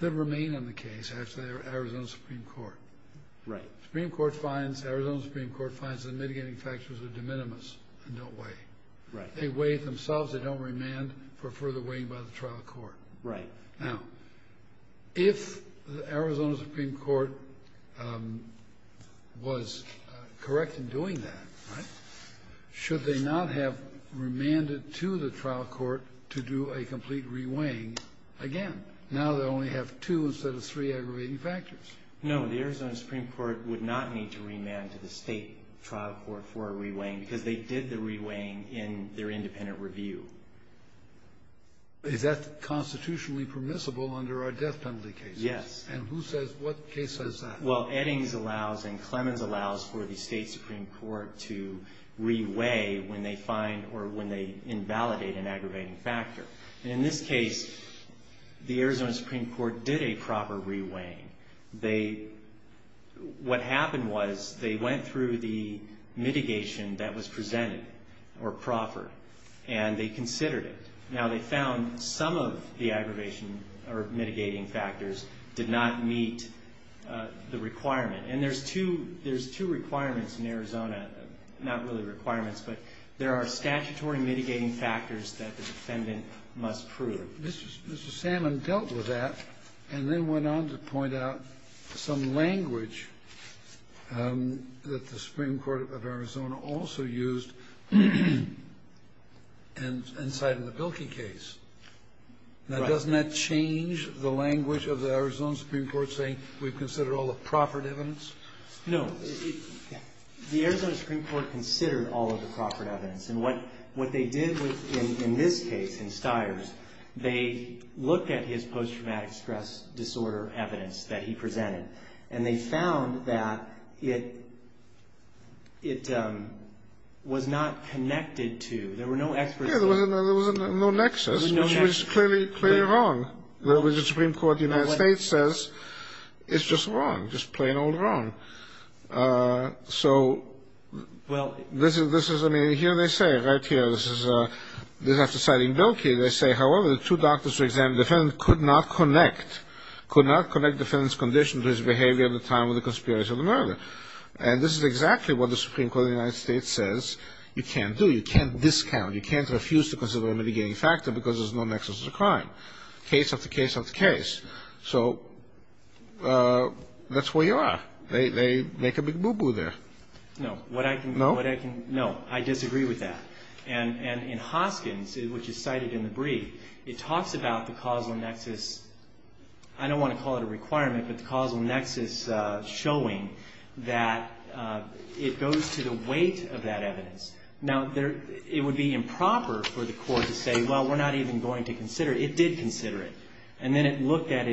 that remain in the case after the Arizona Supreme Court. Right. Arizona Supreme Court finds the mitigating factors are de minimis and don't weigh. Right. They weigh themselves. They don't remand for further weighing by the trial court. Right. Now, if the Arizona Supreme Court was correct in doing that, right, should they not have remanded to the trial court to do a complete reweighing again? Now they only have two instead of three aggravating factors. No, the Arizona Supreme Court would not need to remand to the state trial court for a reweighing because they did the reweighing in their independent review. Is that constitutionally permissible under our death penalty cases? Yes. And who says, what case says that? Well, Eddings allows and Clemens allows for the state supreme court to reweigh when they find or when they invalidate an aggravating factor. And in this case, the Arizona Supreme Court did a proper reweighing. They, what happened was they went through the mitigation that was presented or proffered and they considered it. Now they found some of the aggravation or mitigating factors did not meet the requirement. And there's two requirements in Arizona, not really requirements, but there are statutory mitigating factors that the defendant must prove. So Mr. Salmon dealt with that and then went on to point out some language that the Supreme Court of Arizona also used inside of the Bilkey case. Now doesn't that change the language of the Arizona Supreme Court saying we've considered all the proffered evidence? No. The Arizona Supreme Court considered all of the proffered evidence. And what they did in this case, in Stiers, they looked at his post-traumatic stress disorder evidence that he presented and they found that it was not connected to, there were no experts. Yeah, there was no nexus, which was clearly wrong. The Supreme Court of the United States says it's just wrong, just plain old wrong. So this is, I mean, here they say, right here, this is after citing Bilkey, they say, however, the two doctors who examined the defendant could not connect, could not connect the defendant's condition to his behavior at the time of the conspiracy of the murder. And this is exactly what the Supreme Court of the United States says you can't do, you can't discount, you can't refuse to consider a mitigating factor because there's no nexus to the crime. Case after case after case. So that's where you are. They make a big boo-boo there. No. No? No. I disagree with that. And in Hoskins, which is cited in the brief, it talks about the causal nexus. I don't want to call it a requirement, but the causal nexus showing that it goes to the weight of that evidence. Now, it would be improper for the court to say, well, we're not even going to consider it. It did consider it. And then it looked at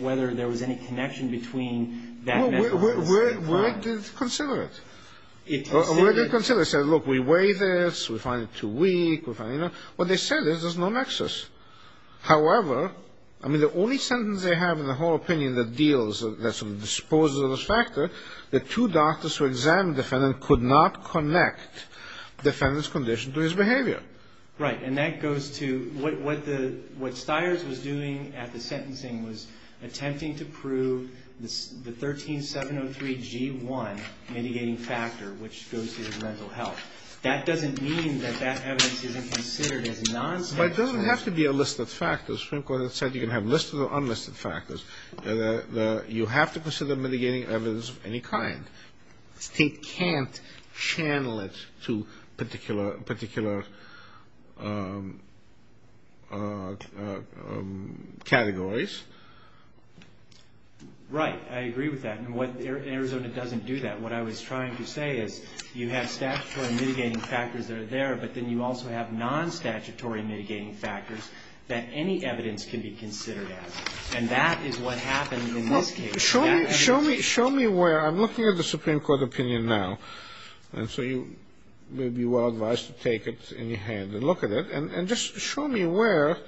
whether there was any connection between that method and the same crime. Well, where did it consider it? Where did it consider it? It said, look, we weigh this, we find it too weak. What they said is there's no nexus. However, I mean, the only sentence they have in the whole opinion that deals, that sort of disposes of this factor, the two doctors who examined the defendant could not connect the defendant's condition to his behavior. Right. And that goes to what the, what Stiers was doing at the sentencing was attempting to prove the 13703G1 mitigating factor, which goes to the mental health. That doesn't mean that that evidence isn't considered as nonsensical. But it doesn't have to be a list of factors. Supreme Court has said you can have listed or unlisted factors. You have to consider mitigating evidence of any kind. State can't channel it to particular categories. Right. I agree with that. And Arizona doesn't do that. What I was trying to say is you have statutory mitigating factors that are there, but then you also have non-statutory mitigating factors that any evidence can be considered as. And that is what happened in this case. Show me where, I'm looking at the Supreme Court opinion now, and so you may be well advised to take it in your hand and look at it, and just show me where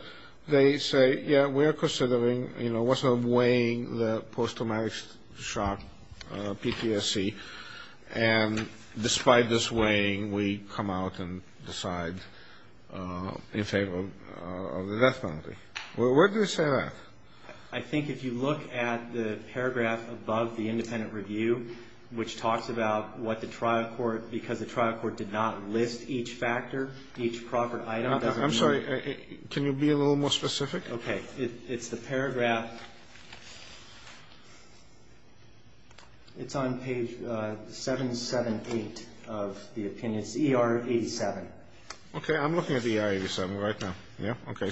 they say, yeah, we're considering, you know, what's weighing the post-traumatic shock PPSC, and despite this weighing we come out and decide in favor of the death penalty. Where do they say that? I think if you look at the paragraph above the independent review, which talks about what the trial court, because the trial court did not list each factor, each proper item. I'm sorry. Can you be a little more specific? Okay. It's the paragraph. It's on page 778 of the opinion. It's ER87. Okay. I'm looking at the ER87 right now. Yeah. Okay.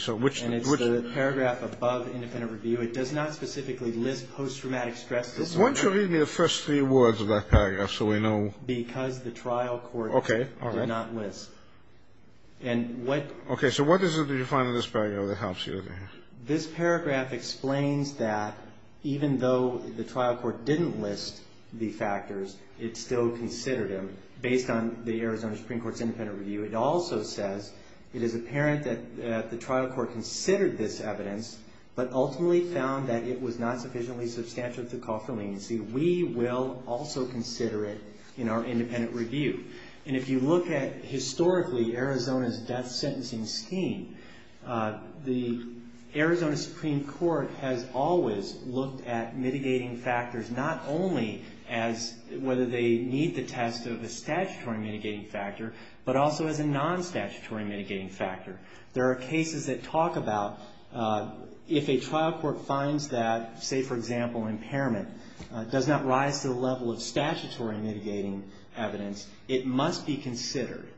And it's the paragraph above independent review. It does not specifically list post-traumatic stress disorder. Why don't you read me the first three words of that paragraph so we know. Because the trial court did not list. Okay. All right. Okay. So what is it that you find in this paragraph that helps you? This paragraph explains that even though the trial court didn't list the factors, it still considered them based on the Arizona Supreme Court's independent review. It also says, it is apparent that the trial court considered this evidence, but ultimately found that it was not sufficiently substantial to call for leniency. We will also consider it in our independent review. And if you look at, historically, Arizona's death sentencing scheme, the Arizona Supreme Court has always looked at mitigating factors not only as whether they need the test of the statutory mitigating factor, but also as a non-statutory mitigating factor. There are cases that talk about if a trial court finds that, say, for example, impairment does not rise to the level of statutory mitigating evidence, it must be considered.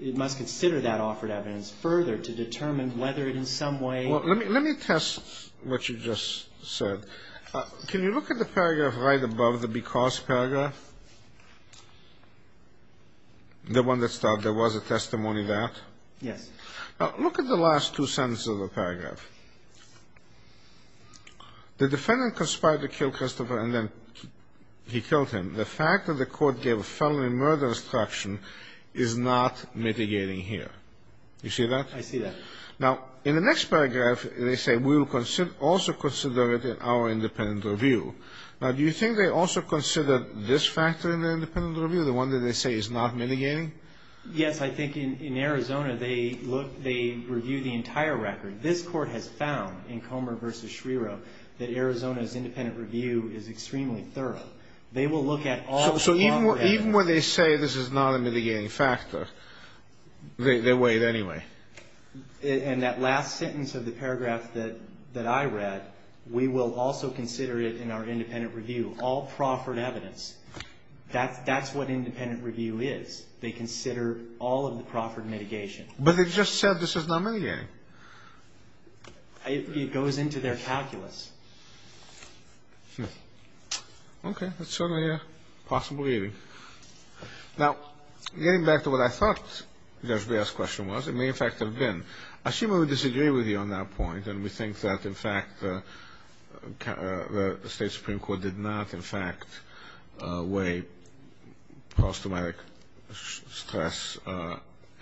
It must consider that offered evidence further to determine whether it in some way. Let me test what you just said. Can you look at the paragraph right above, the because paragraph? The one that started, there was a testimony to that? Yes. Look at the last two sentences of the paragraph. The defendant conspired to kill Christopher and then he killed him. The fact that the court gave a felony murder instruction is not mitigating here. You see that? I see that. Now, in the next paragraph, they say we will also consider it in our independent review. Now, do you think they also consider this factor in the independent review, the one that they say is not mitigating? Yes. I think in Arizona, they look, they review the entire record. This court has found in Comer v. Schreiro that Arizona's independent review is extremely thorough. They will look at all the longer evidence. So even when they say this is not a mitigating factor, they weigh it anyway? And that last sentence of the paragraph that I read, we will also consider it in our independent review, all proffered evidence. That's what independent review is. They consider all of the proffered mitigation. But they just said this is not mitigating. It goes into their calculus. Okay. That's certainly a possible leaving. Now, getting back to what I thought Judge Baer's question was, it may, in fact, have been, I seem to disagree with you on that point, and we think that, in fact, the State Supreme Court did not, in fact, weigh post-traumatic stress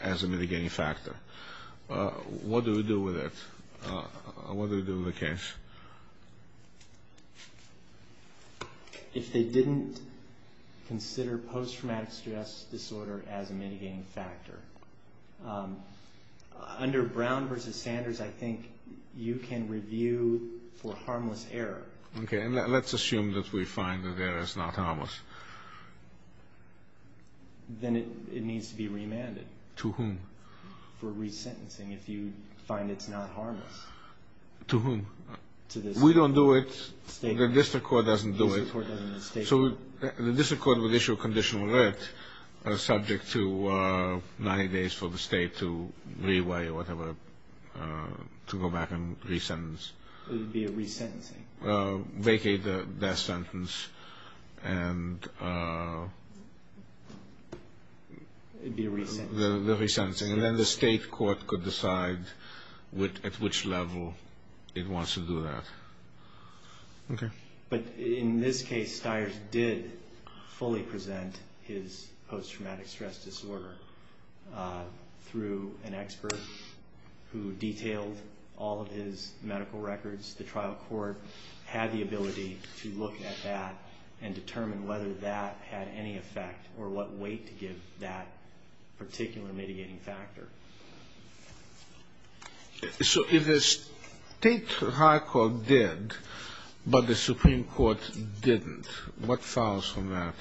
as a mitigating factor. What do we do with it? What do we do with the case? If they didn't consider post-traumatic stress disorder as a mitigating factor, under Brown v. Sanders, I think you can review for harmless error. Okay. And let's assume that we find that error is not harmless. Then it needs to be remanded. To whom? For resentencing if you find it's not harmless. To whom? We don't do it. The district court doesn't do it. So the district court would issue a conditional writ subject to 90 days for the state to reweigh or whatever, to go back and resentence. It would be a resentencing. Vacate the death sentence. It would be a resentencing. And then the state court could decide at which level it wants to do that. Okay. But in this case, Stiers did fully present his post-traumatic stress disorder through an expert who detailed all of his medical records. The trial court had the ability to look at that and determine whether that had any effect or what weight to give that particular mitigating factor. So if the state trial court did, but the Supreme Court didn't, what follows from that?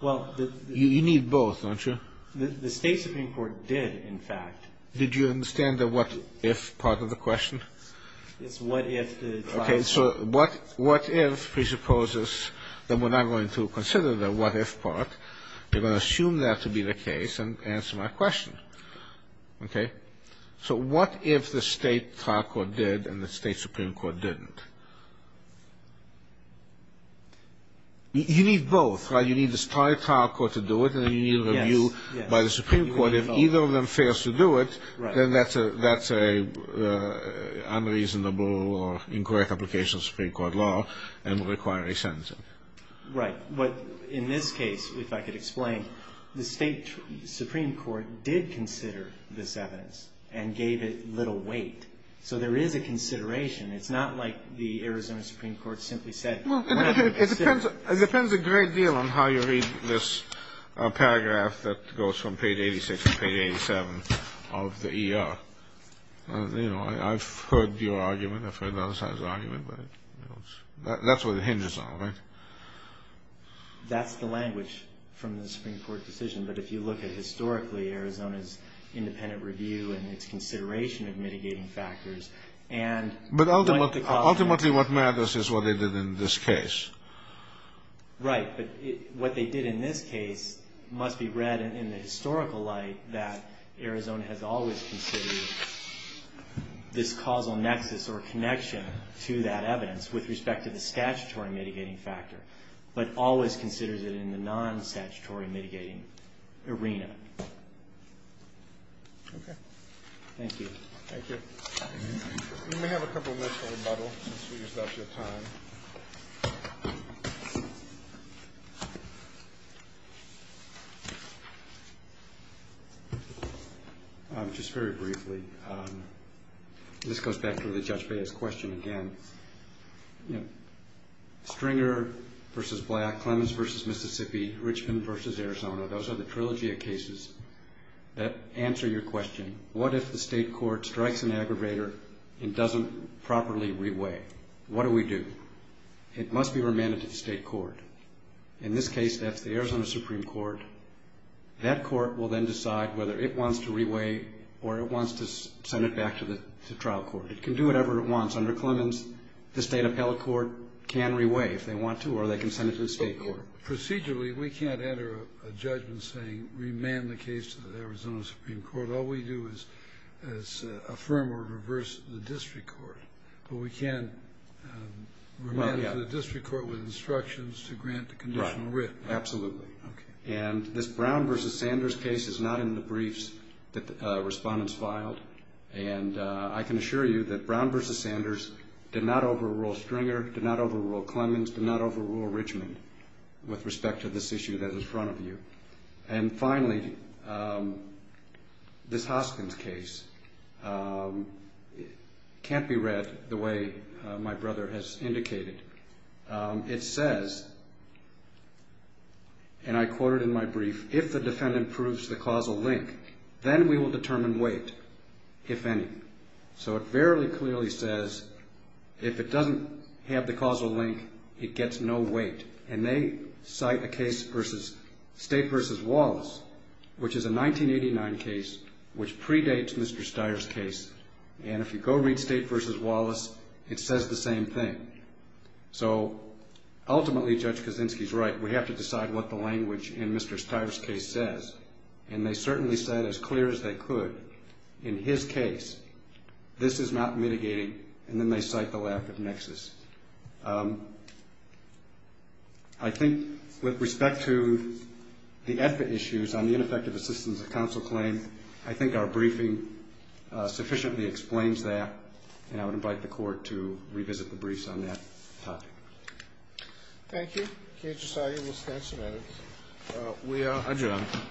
Well, the You need both, don't you? The state Supreme Court did, in fact. Did you understand the what if part of the question? It's what if the trial court So what if presupposes that we're not going to consider the what if part. We're going to assume that to be the case and answer my question. Okay. So what if the state trial court did and the state Supreme Court didn't? You need both. You need the trial court to do it, and then you need a review by the Supreme Court. But if either of them fails to do it, then that's an unreasonable or incorrect application of Supreme Court law and will require a sentencing. Right. But in this case, if I could explain, the state Supreme Court did consider this evidence and gave it little weight. So there is a consideration. It's not like the Arizona Supreme Court simply said, whatever. It depends a great deal on how you read this paragraph that goes from page 86 to page 87 of the ER. You know, I've heard your argument. I've heard other sides of the argument. But that's what it hinges on, right? That's the language from the Supreme Court decision. But if you look at historically Arizona's independent review and its consideration of mitigating factors and But ultimately what matters is what they did in this case. Right. But what they did in this case must be read in the historical light that Arizona has always considered this causal nexus or connection to that evidence with respect to the statutory mitigating factor, but always considers it in the non-statutory Okay. Thank you. Thank you. We may have a couple minutes for rebuttal since we used up your time. Just very briefly, this goes back to the Judge Bea's question again. You know, Stringer v. Black, Clemens v. Mississippi, Richmond v. Arizona, those are the trilogy of cases that answer your question. What if the State court strikes an aggravator and doesn't properly reweigh? What do we do? It must be remanded to the State court. In this case, that's the Arizona Supreme Court. That court will then decide whether it wants to reweigh or it wants to send it back to the trial court. It can do whatever it wants. Under Clemens, the State appellate court can reweigh if they want to or they can send it to the State court. Procedurally, we can't enter a judgment saying remand the case to the Arizona Supreme Court. All we do is affirm or reverse the district court. But we can't remand to the district court with instructions to grant the conditional writ. Absolutely. And this Brown v. Sanders case is not in the briefs that the respondents filed. And I can assure you that Brown v. Sanders did not overrule Stringer, did not overrule Clemens, did not overrule Richmond with respect to this issue that is in front of you. And finally, this Hoskins case can't be read the way my brother has indicated. It says, and I quote it in my brief, if the defendant proves the causal link, then we will determine weight, if any. So it very clearly says if it doesn't have the causal link, it gets no weight. And they cite a case versus State v. Wallace, which is a 1989 case which predates Mr. Steyer's case. And if you go read State v. Wallace, it says the same thing. So ultimately, Judge Kaczynski is right. We have to decide what the language in Mr. Steyer's case says. And they certainly said as clear as they could in his case, this is not mitigating. And then they cite the lack of nexus. I think with respect to the EFFA issues on the ineffective assistance of counsel claim, I think our briefing sufficiently explains that, and I would invite the Court to revisit the briefs on that topic. Thank you. Judge Asagi, we'll stand some minutes. We are adjourned.